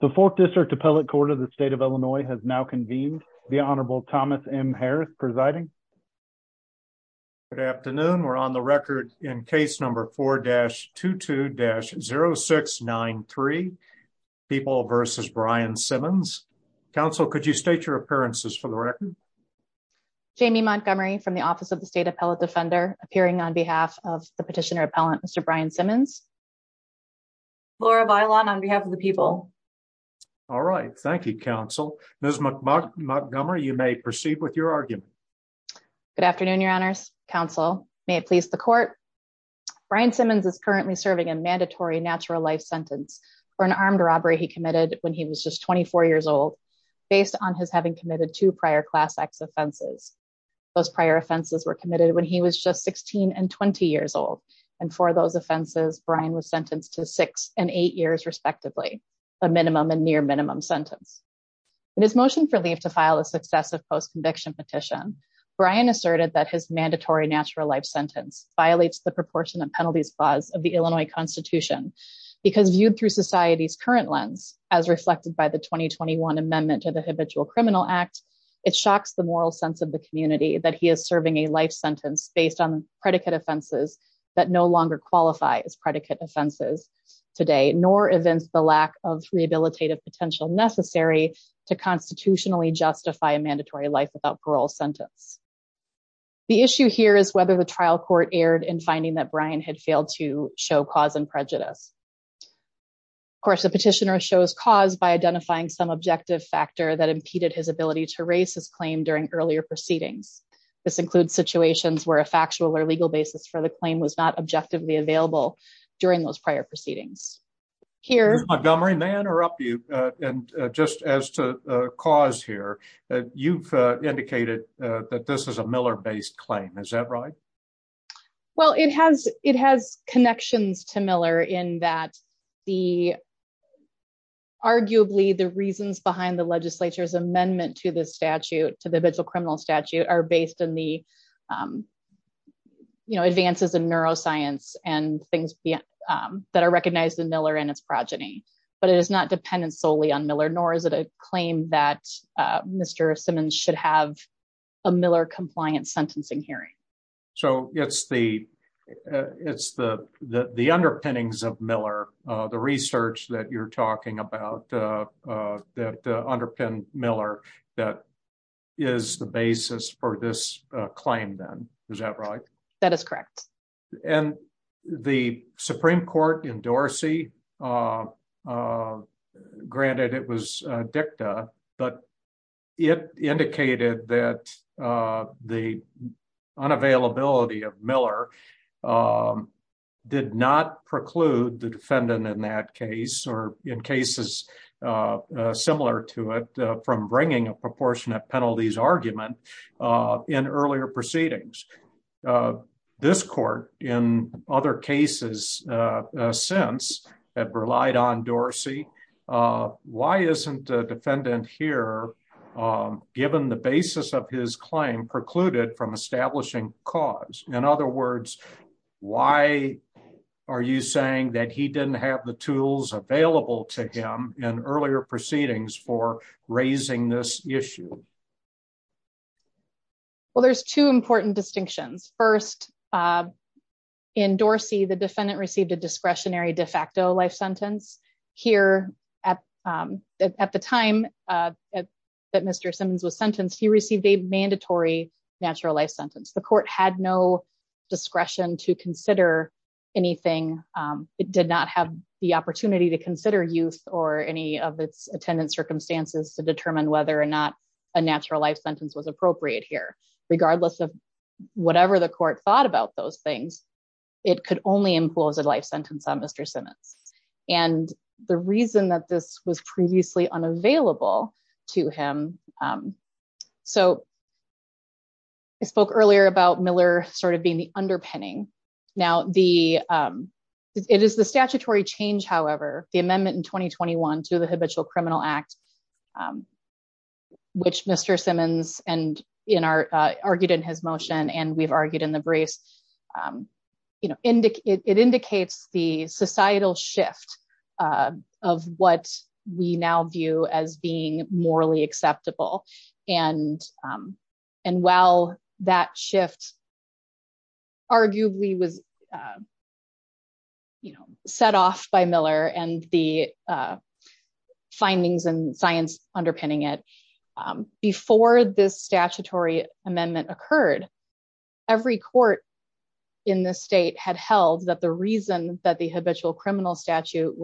The fourth district appellate court of the state of Illinois has now convened the Honorable Thomas M. Harris presiding. Good afternoon. We're on the record in case number 4-22-0693 People v. Brian Simmons. Council, could you state your appearances for the record? Jamie Montgomery from the office of the state appellate defender appearing on behalf of the petitioner appellant, Mr. Brian Simmons. Laura Bailon on behalf of the people. All right. Thank you, Council. Ms. Montgomery, you may proceed with your argument. Good afternoon, Your Honors. Council, may it please the court. Brian Simmons is currently serving a mandatory natural life sentence for an armed robbery he committed when he was just 24 years old based on his having committed two prior Class X offenses. Those prior offenses were committed when he was just 16 and 20 years old, and for those offenses, Brian was sentenced to six and eight years respectively, a minimum and near minimum sentence. In his motion for leave to file a successive post-conviction petition, Brian asserted that his mandatory natural life sentence violates the proportion of penalties clause of the Illinois Constitution because viewed through society's current lens, as reflected by the 2021 amendment to the Habitual Criminal Act, it shocks the moral sense of the community that he is serving a life sentence based on predicate offenses that no longer qualify as predicate offenses today, nor evince the lack of rehabilitative potential necessary to constitutionally justify a mandatory life without parole sentence. The issue here is whether the trial court erred in finding that Brian had failed to show cause and prejudice. Of course, the petitioner shows cause by identifying some objective factor that impeded his ability to raise his claim during earlier proceedings. This includes situations where a factual or legal basis for the claim was not objectively available during those prior proceedings. Ms. Montgomery, may I interrupt you? Just as to cause here, you've indicated that this is a Miller-based claim, is that right? Well, it has connections to Miller in that arguably the reasons behind the legislature's statute are based in the advances in neuroscience and things that are recognized in Miller and its progeny. But it is not dependent solely on Miller, nor is it a claim that Mr. Simmons should have a Miller-compliant sentencing hearing. So it's the underpinnings of Miller, the research that you're talking about that underpin Miller that is the basis for this claim then, is that right? That is correct. And the Supreme Court in Dorsey, granted it was dicta, but it indicated that the unavailability of Miller did not preclude the defendant in that case, or in cases similar to it, from bringing a proportionate penalties argument in earlier proceedings. This court, in other cases since, have relied on Dorsey. Why isn't a defendant here, given the basis of his claim precluded from establishing cause? In other words, why are you saying that he didn't have the tools available to him in earlier proceedings for raising this issue? Well, there's two important distinctions. First, in Dorsey, the defendant received a discretionary de facto life sentence. Here, at the time that Mr. Simmons was sentenced, he received a mandatory natural life sentence. The court had no discretion to consider anything. It did not have the opportunity to consider youth or any of its attendant circumstances to determine whether or not a natural life sentence was appropriate here. Regardless of whatever the court thought about those things, it could only impose a life sentence on Mr. Simmons. And the reason that this was previously unavailable to him... I spoke earlier about Miller sort of being the underpinning. Now, it is the statutory change, however, the amendment in 2021 to the Habitual Criminal Act, which Mr. Simmons argued in his motion, and we've argued in the briefs, it indicates the societal shift of what we now view as being morally acceptable. And while that shift arguably was set off by Miller and the findings and science underpinning it, before this statutory amendment occurred, every court in the state had held that the reason that the Habitual Criminal Statute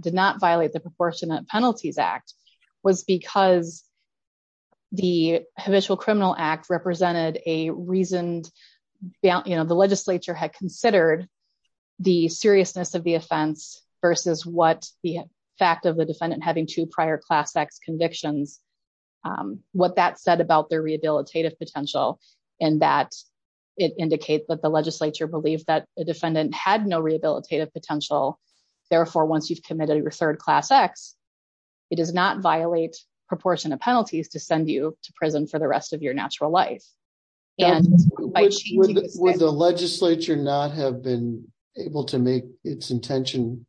did not violate the Proportionate Penalties Act was because the Habitual Criminal Act represented a reasoned... The legislature had considered the seriousness of the offense versus what the fact of the defendant having two prior Class X convictions, what that said about their rehabilitative potential, and that it indicates that the legislature believed that a defendant had no rehabilitative potential. Therefore, once you've committed your third Class X, it does not violate Proportionate Penalties to send you to prison for the rest of your natural life. And... Would the legislature not have been able to make its intention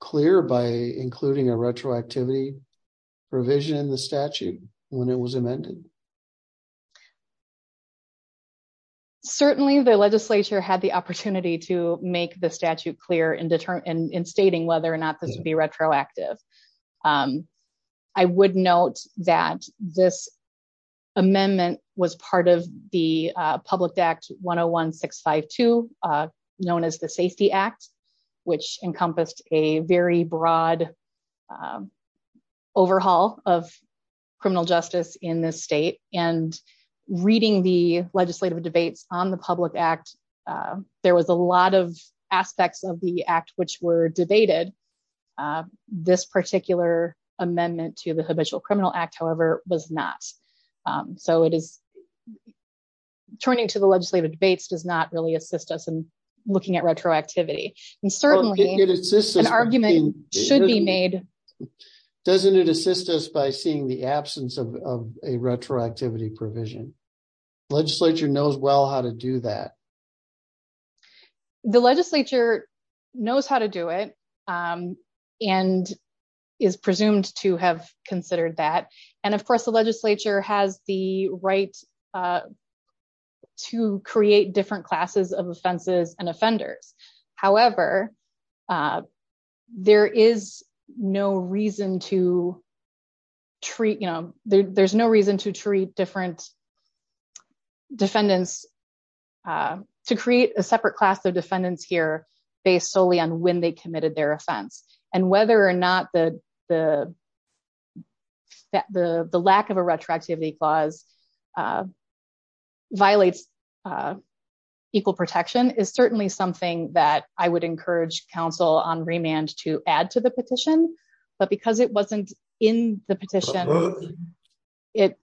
clear by including a retroactivity provision in the statute when it was amended? Certainly, the legislature had the opportunity to make the statute clear in stating whether or not this would be retroactive. I would note that this amendment was part of the Public Act 101-652, known as the Safety Act, which encompassed a very broad overhaul of criminal justice in this state. And reading the legislative debates on the Public Act, there was a lot of this particular amendment to the Habitual Criminal Act, however, was not. So it is... Turning to the legislative debates does not really assist us in looking at retroactivity. And certainly, an argument should be made... Doesn't it assist us by seeing the absence of a retroactivity provision? Legislature knows well how to do that. The legislature knows how to do it and is presumed to have considered that. And of course, the legislature has the right to create different classes of offenses and offenders. However, there is no reason to treat, you know, there's no reason to treat different defendants... To create a separate class of defendants here, based solely on when they committed their offense. And whether or not the lack of a retroactivity clause violates equal protection is certainly something that I would encourage counsel on remand to add to the petition. But because it wasn't in the petition, it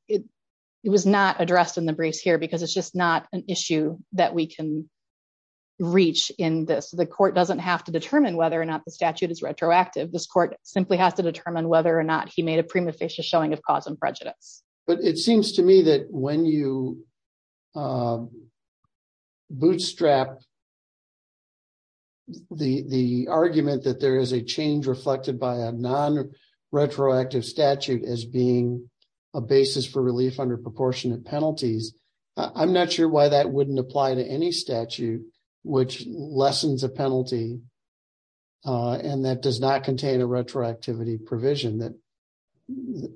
was not addressed in the briefs here because it's just not an issue that we can reach in this. The court doesn't have to determine whether or not the statute is retroactive. This court simply has to determine whether or not he made a prima facie showing of cause and prejudice. But it seems to me that when you bootstrap the argument that there is a change reflected by a non-retroactive statute as being a basis for relief under proportionate penalties, I'm not sure why that wouldn't apply to any statute which lessens a penalty and that does not contain a retroactivity provision that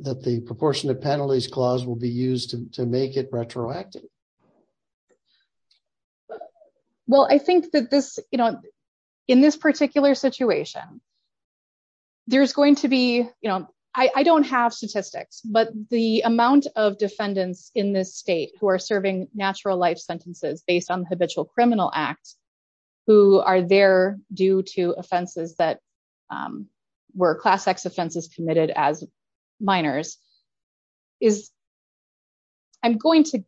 that the proportionate penalties clause will be used to make it retroactive. Well, I think that this, you know, in this particular situation, there's going to be, you know, I don't have statistics, but the amount of defendants in this state who are serving natural life sentences based on the Habitual Criminal Act, who are there due to offenses that were class X offenses committed as minors, I'm going to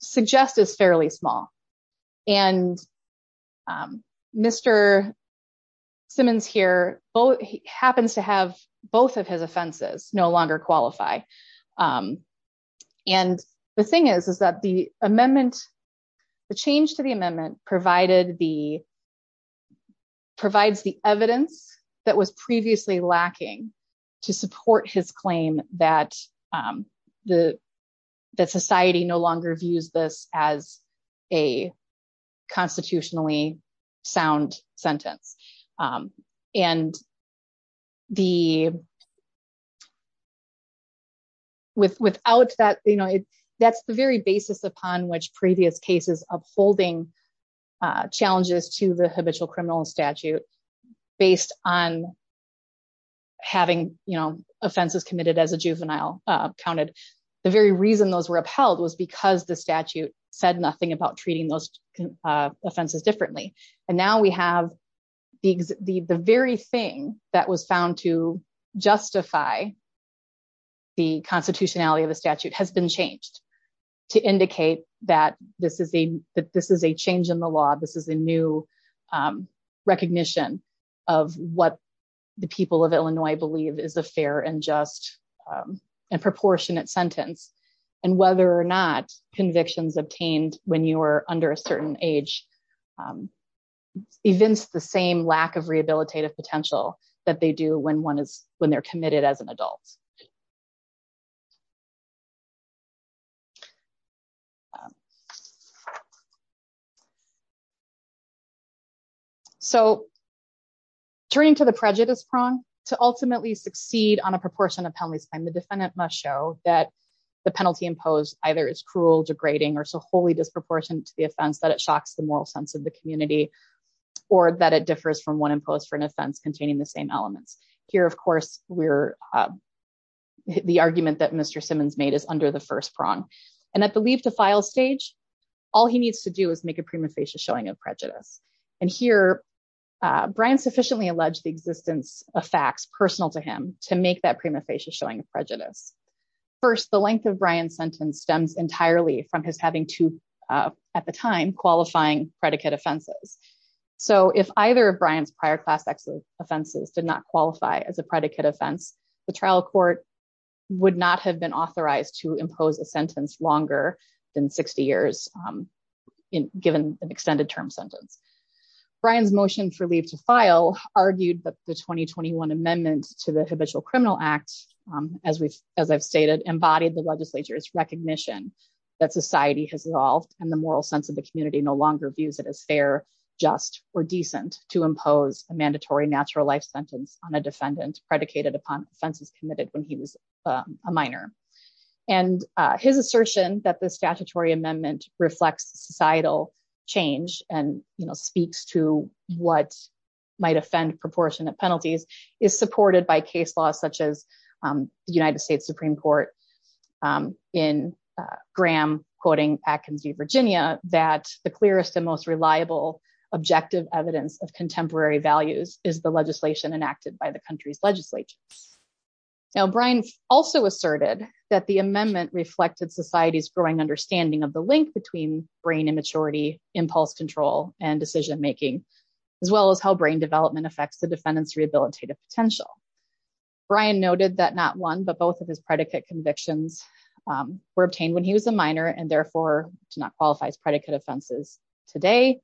suggest is fairly small. And Mr. Simmons here happens to have both of his offenses no longer qualify. And the thing is, is that the amendment, the change to the amendment provided the, provides the evidence that was previously lacking to support his claim that the, that society no longer views this as a constitutionally sound sentence. And the, without that, you know, that's the very basis upon which previous cases of holding challenges to the habitual criminal statute based on having, you know, reason those were upheld was because the statute said nothing about treating those offenses differently. And now we have the very thing that was found to justify the constitutionality of the statute has been changed to indicate that this is a, this is a change in the law. This is a new recognition of what the people of Illinois believe is a fair and just and proportionate sentence and whether or not convictions obtained when you were under a certain age, evince the same lack of rehabilitative potential that they do when one is, when they're committed as an adult. So turning to the prejudice prong to ultimately succeed on a proportion of penalties time, the defendant must show that the penalty imposed either is cruel degrading or so wholly disproportionate to the offense that it shocks the moral sense of the community, or that it differs from one imposed for an offense containing the same elements. Here, of course, we're, the argument that Mr. Simmons made is under the first prong. And at the leave to file stage, all he needs to do is make a prima facie showing of prejudice. And here, Brian sufficiently alleged the existence of facts personal to him to make that prima facie showing of prejudice. First, the length of Brian's sentence stems entirely from his having to at the time qualifying predicate offenses. So if either of Brian's offenses did not qualify as a predicate offense, the trial court would not have been authorized to impose a sentence longer than 60 years in given an extended term sentence. Brian's motion for leave to file argued that the 2021 amendments to the habitual criminal act, as we've, as I've stated, embodied the legislature's recognition that society has evolved and the moral sense of community no longer views it as fair, just or decent to impose a mandatory natural life sentence on a defendant predicated upon offenses committed when he was a minor. And his assertion that the statutory amendment reflects societal change and, you know, speaks to what might offend proportionate penalties is supported by case laws such as the United States Supreme Court in Graham quoting Atkins v. Virginia that the clearest and most reliable objective evidence of contemporary values is the legislation enacted by the country's legislature. Now, Brian also asserted that the amendment reflected society's growing understanding of the link between brain immaturity, impulse control, and decision making, as well as how brain development affects the defendant's rehabilitative potential. Brian noted that not convictions were obtained when he was a minor and therefore do not qualify as predicate offenses today.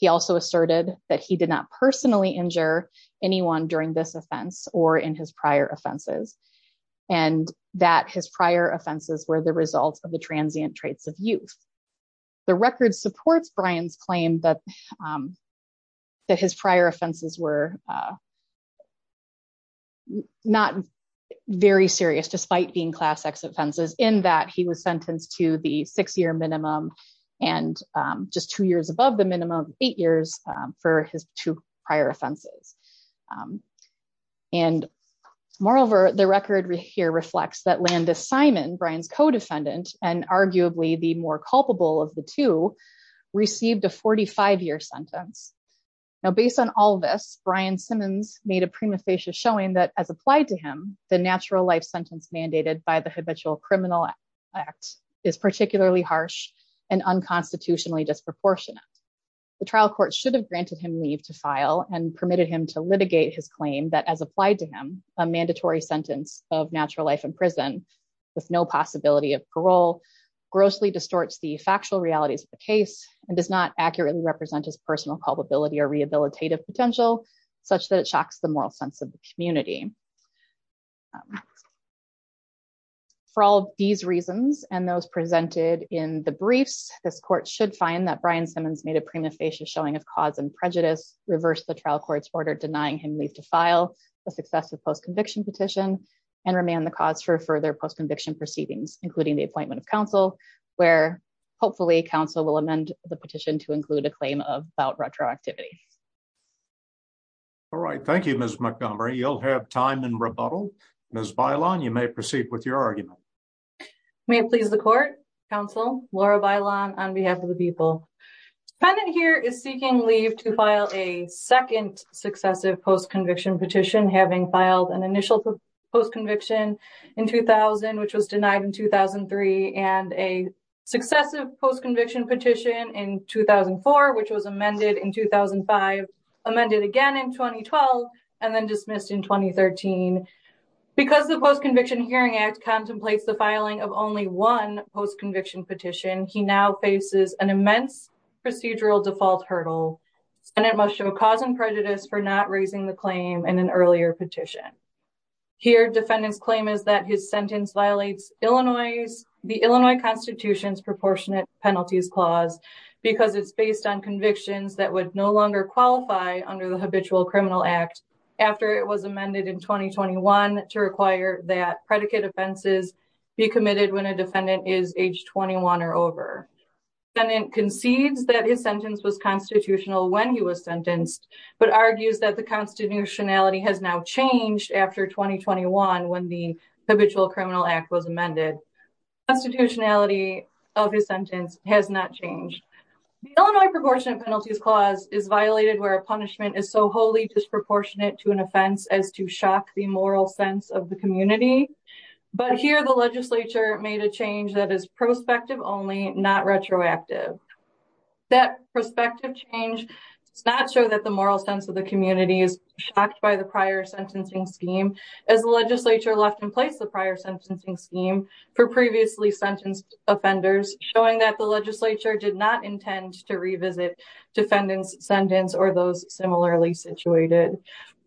He also asserted that he did not personally injure anyone during this offense or in his prior offenses, and that his prior offenses were the result of the transient traits of youth. The record supports Brian's claim that his prior offenses were not very serious despite being class X offenses in that he was sentenced to the six-year minimum and just two years above the minimum eight years for his two prior offenses. And moreover, the record here reflects that Landis Simon, Brian's co-defendant, and arguably the more culpable of the two, received a 45-year sentence. Now, based on all this, Brian Simmons made a prima facie showing that, as applied to him, the natural life sentence mandated by the Habitual Criminal Act is particularly harsh and unconstitutionally disproportionate. The trial court should have granted him leave to file and permitted him to litigate his claim that, as applied to him, a mandatory sentence of natural life in prison with no possibility of parole grossly distorts the factual realities of the case and does not such that it shocks the moral sense of the community. For all these reasons and those presented in the briefs, this court should find that Brian Simmons made a prima facie showing of cause and prejudice, reversed the trial court's order denying him leave to file the successive post-conviction petition, and remanded the cause for further post-conviction proceedings, including the appointment of counsel, where hopefully counsel will amend the petition to include a claim of about retroactivity. All right, thank you, Ms. Montgomery. You'll have time in rebuttal. Ms. Bailon, you may proceed with your argument. May it please the court, counsel, Laura Bailon, on behalf of the people. The defendant here is seeking leave to file a second successive post-conviction petition, having filed an initial post-conviction in 2000, which was denied in 2003, and a successive post-conviction petition in 2004, which was amended in 2005, amended again in 2012, and then dismissed in 2013. Because the Post-Conviction Hearing Act contemplates the filing of only one post-conviction petition, he now faces an immense procedural default hurdle, and it must show cause and prejudice for not raising the claim in an earlier petition. Here, defendant's claim is that his sentence violates the Illinois Constitution's Proportionate Penalties Clause because it's based on convictions that would no longer qualify under the Habitual Criminal Act after it was amended in 2021 to require that predicate offenses be committed when a defendant is age 21 or over. The defendant concedes that his sentence was constitutional when he was sentenced, but argues that the constitutionality has now changed after 2021 when the Habitual Criminal Act was amended. Constitutionality of his sentence has not changed. The Illinois Proportionate Penalties Clause is violated where a punishment is so wholly disproportionate to an offense as to shock the moral sense of the community, but here the legislature made a change that is prospective only, not retroactive. That prospective change does not show that the moral sense of the community is shocked by the prior sentencing scheme as the legislature left in place the prior sentencing scheme for previously sentenced offenders, showing that the legislature did not intend to revisit defendant's sentence or those similarly situated.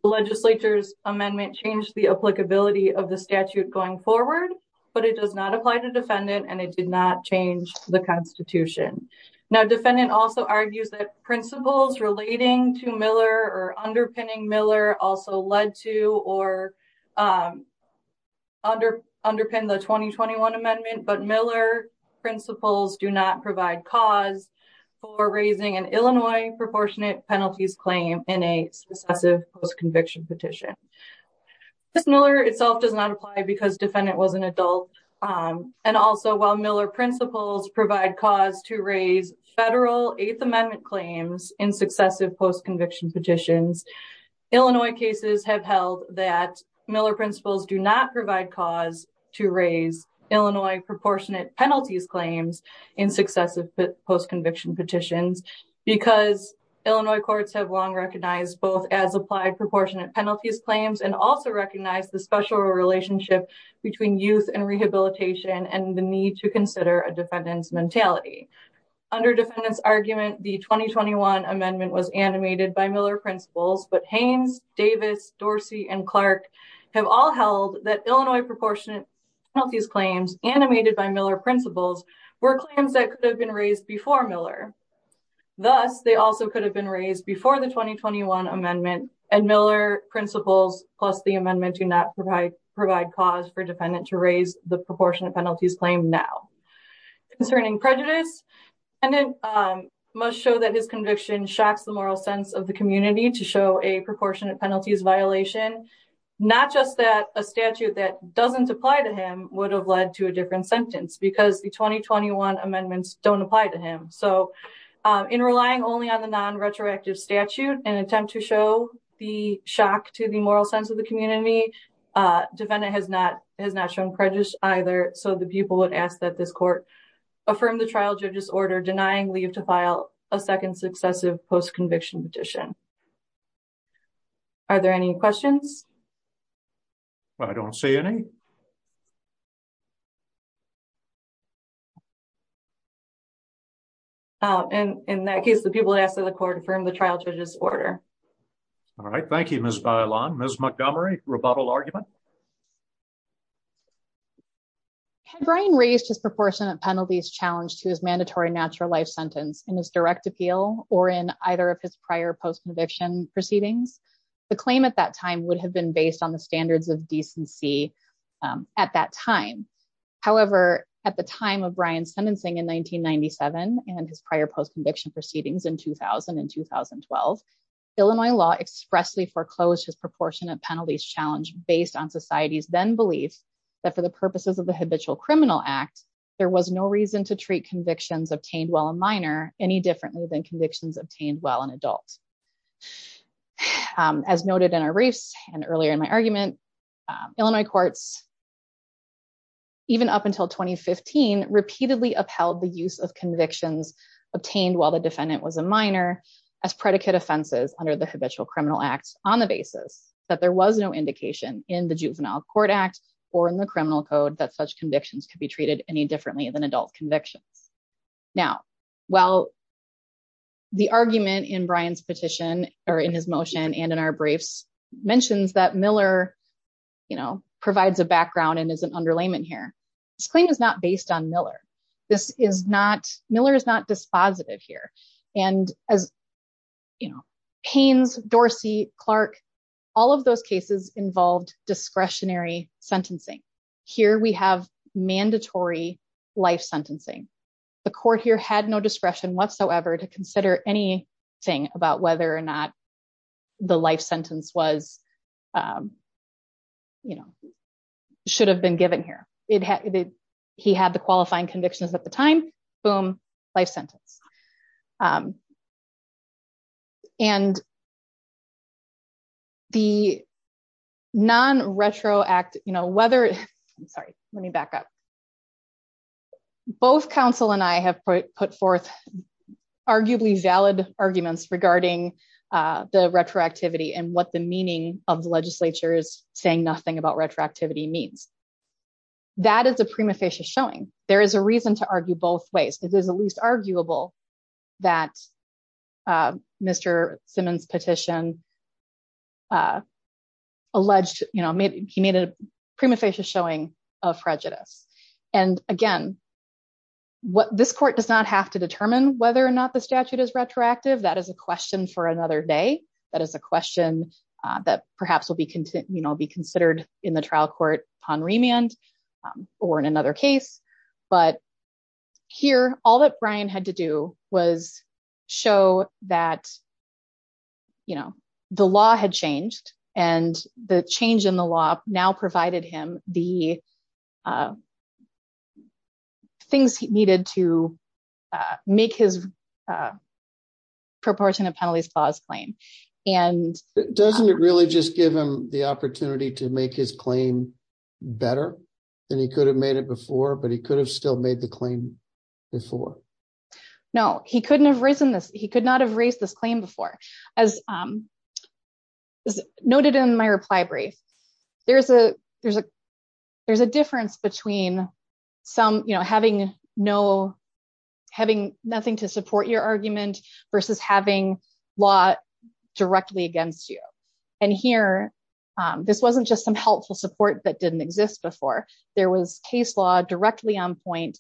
The legislature's amendment changed the applicability of the statute going forward, but it does not apply to defendant and it did not change the constitution. Now, defendant also argues that principles relating to Miller or underpinning Miller also led to or underpin the 2021 amendment, but Miller principles do not provide cause for raising an Illinois Proportionate Penalties Claim in a successive post-conviction petition. This Miller itself does not apply because defendant was an adult and also while Miller principles provide cause to raise federal eighth amendment claims in successive post-conviction petitions, Illinois cases have held that Miller principles do not provide cause to raise Illinois proportionate penalties claims in successive post-conviction petitions because Illinois courts have long recognized both as applied proportionate penalties claims and also recognize the special relationship between youth and rehabilitation and the need to consider a defendant's mentality. Under defendant's argument, the 2021 amendment was animated by Miller principles, but Haynes, Davis, Dorsey, and Clark have all held that Illinois proportionate penalties claims animated by Miller principles were claims that could have been raised before Miller. Thus, they also could have been raised before the 2021 amendment and Miller principles plus amendment do not provide cause for defendant to raise the proportionate penalties claim now. Concerning prejudice, defendant must show that his conviction shocks the moral sense of the community to show a proportionate penalties violation, not just that a statute that doesn't apply to him would have led to a different sentence because the 2021 amendments don't apply to him. So, in relying only on the non-retroactive statute and attempt to show the shock to the community, defendant has not shown prejudice either. So, the people would ask that this court affirm the trial judge's order denying leave to file a second successive post-conviction petition. Are there any questions? Well, I don't see any. In that case, the people would ask that the court affirm the trial judge's order. All right. Thank you, Ms. Bailon. Ms. Montgomery, rebuttal argument? Had Brian raised his proportionate penalties challenge to his mandatory natural life sentence in his direct appeal or in either of his prior post-conviction proceedings, the claim at that time would have been based on the standards of decency at that time. However, at the time of Brian's sentencing in 1997 and his prior post-conviction proceedings in 2000 and 2012, Illinois law expressly foreclosed his proportionate penalties challenge based on society's then belief that for the purposes of the Habitual Criminal Act, there was no reason to treat convictions obtained while a minor any differently than convictions obtained while an adult. As noted in our briefs and earlier in my argument, Illinois courts, even up until 2015, repeatedly upheld the use of convictions obtained while the defendant was a minor as predicate offenses under the Habitual Criminal Act on the basis that there was no indication in the Juvenile Court Act or in the criminal code that such convictions could be treated any differently than adult convictions. Now, while the argument in Brian's petition or in his motion and in our briefs mentions that Miller provides a background and is an underlayment here, this claim is not based on Miller. Miller is not dispositive here. And as Haynes, Dorsey, Clark, all of those cases involved discretionary sentencing. Here we have mandatory life sentencing. The court here had no discretion whatsoever to consider anything about whether or not the life sentence should have been given here. He had the qualifying convictions at the time, boom, life sentence. And the non-retroactive, you know, whether, I'm sorry, let me back up. Both counsel and I have put forth arguably valid arguments regarding the retroactivity and what the meaning of the legislature is saying nothing about retroactivity means. That is a prima facie showing. There is a reason to argue both ways. It is at least arguable that Mr. Simmons petition alleged, you know, he made a prima facie showing of prejudice. And again, this court does not have to determine whether or not the statute is retroactive. That is a question for another day. That is a question that perhaps will be, you know, be considered in the trial court upon remand or in another case. But here, all that Brian had to do was show that, you know, the law had changed and the change in the law now provided him the things he needed to make his proportionate penalties clause claim. And doesn't it really just give him the opportunity to make his claim better than he could have made it before? But he could have still made the claim before. No, he could not have raised this claim before. As noted in my reply brief, there is a difference between some, you know, having nothing to do with the statute and having the statute directly against you. And here, this wasn't just some helpful support that didn't exist before. There was case law directly on point.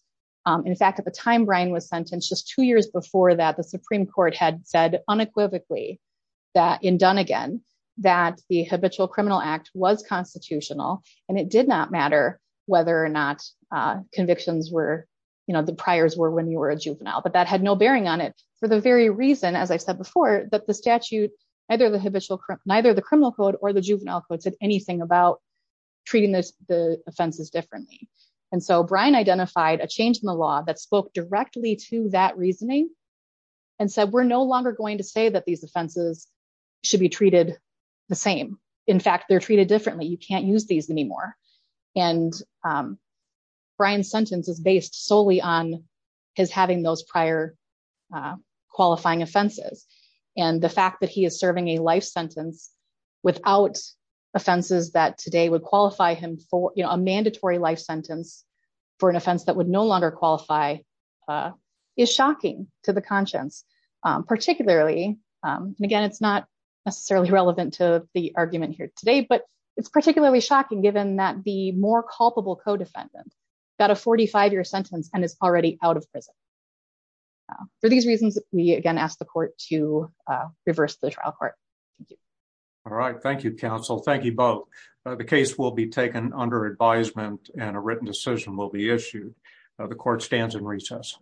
In fact, at the time Brian was sentenced, just two years before that, the Supreme Court had said unequivocally that in Dunnegan that the habitual criminal act was constitutional and it did not matter whether or not convictions were, you know, the priors were when you were a juvenile, but that had no bearing on it for the very reason, as I said before, that the statute, neither the habitual, neither the criminal code or the juvenile code said anything about treating the offenses differently. And so Brian identified a change in the law that spoke directly to that reasoning and said, we're no longer going to say that these offenses should be treated the same. In fact, they're treated differently. You can't use these anymore. And Brian's sentence is based solely on his having those prior qualifying offenses. And the fact that he is serving a life sentence without offenses that today would qualify him for a mandatory life sentence for an offense that would no longer qualify is shocking to the conscience, particularly, and again, it's not necessarily relevant to the argument here today, but it's particularly shocking given that the more culpable co-defendant got a 45-year sentence and is already out of prison. So for these reasons, we again ask the court to reverse the trial court. Thank you. All right. Thank you, counsel. Thank you both. The case will be taken under advisement and a written decision will be issued. The court stands in recess.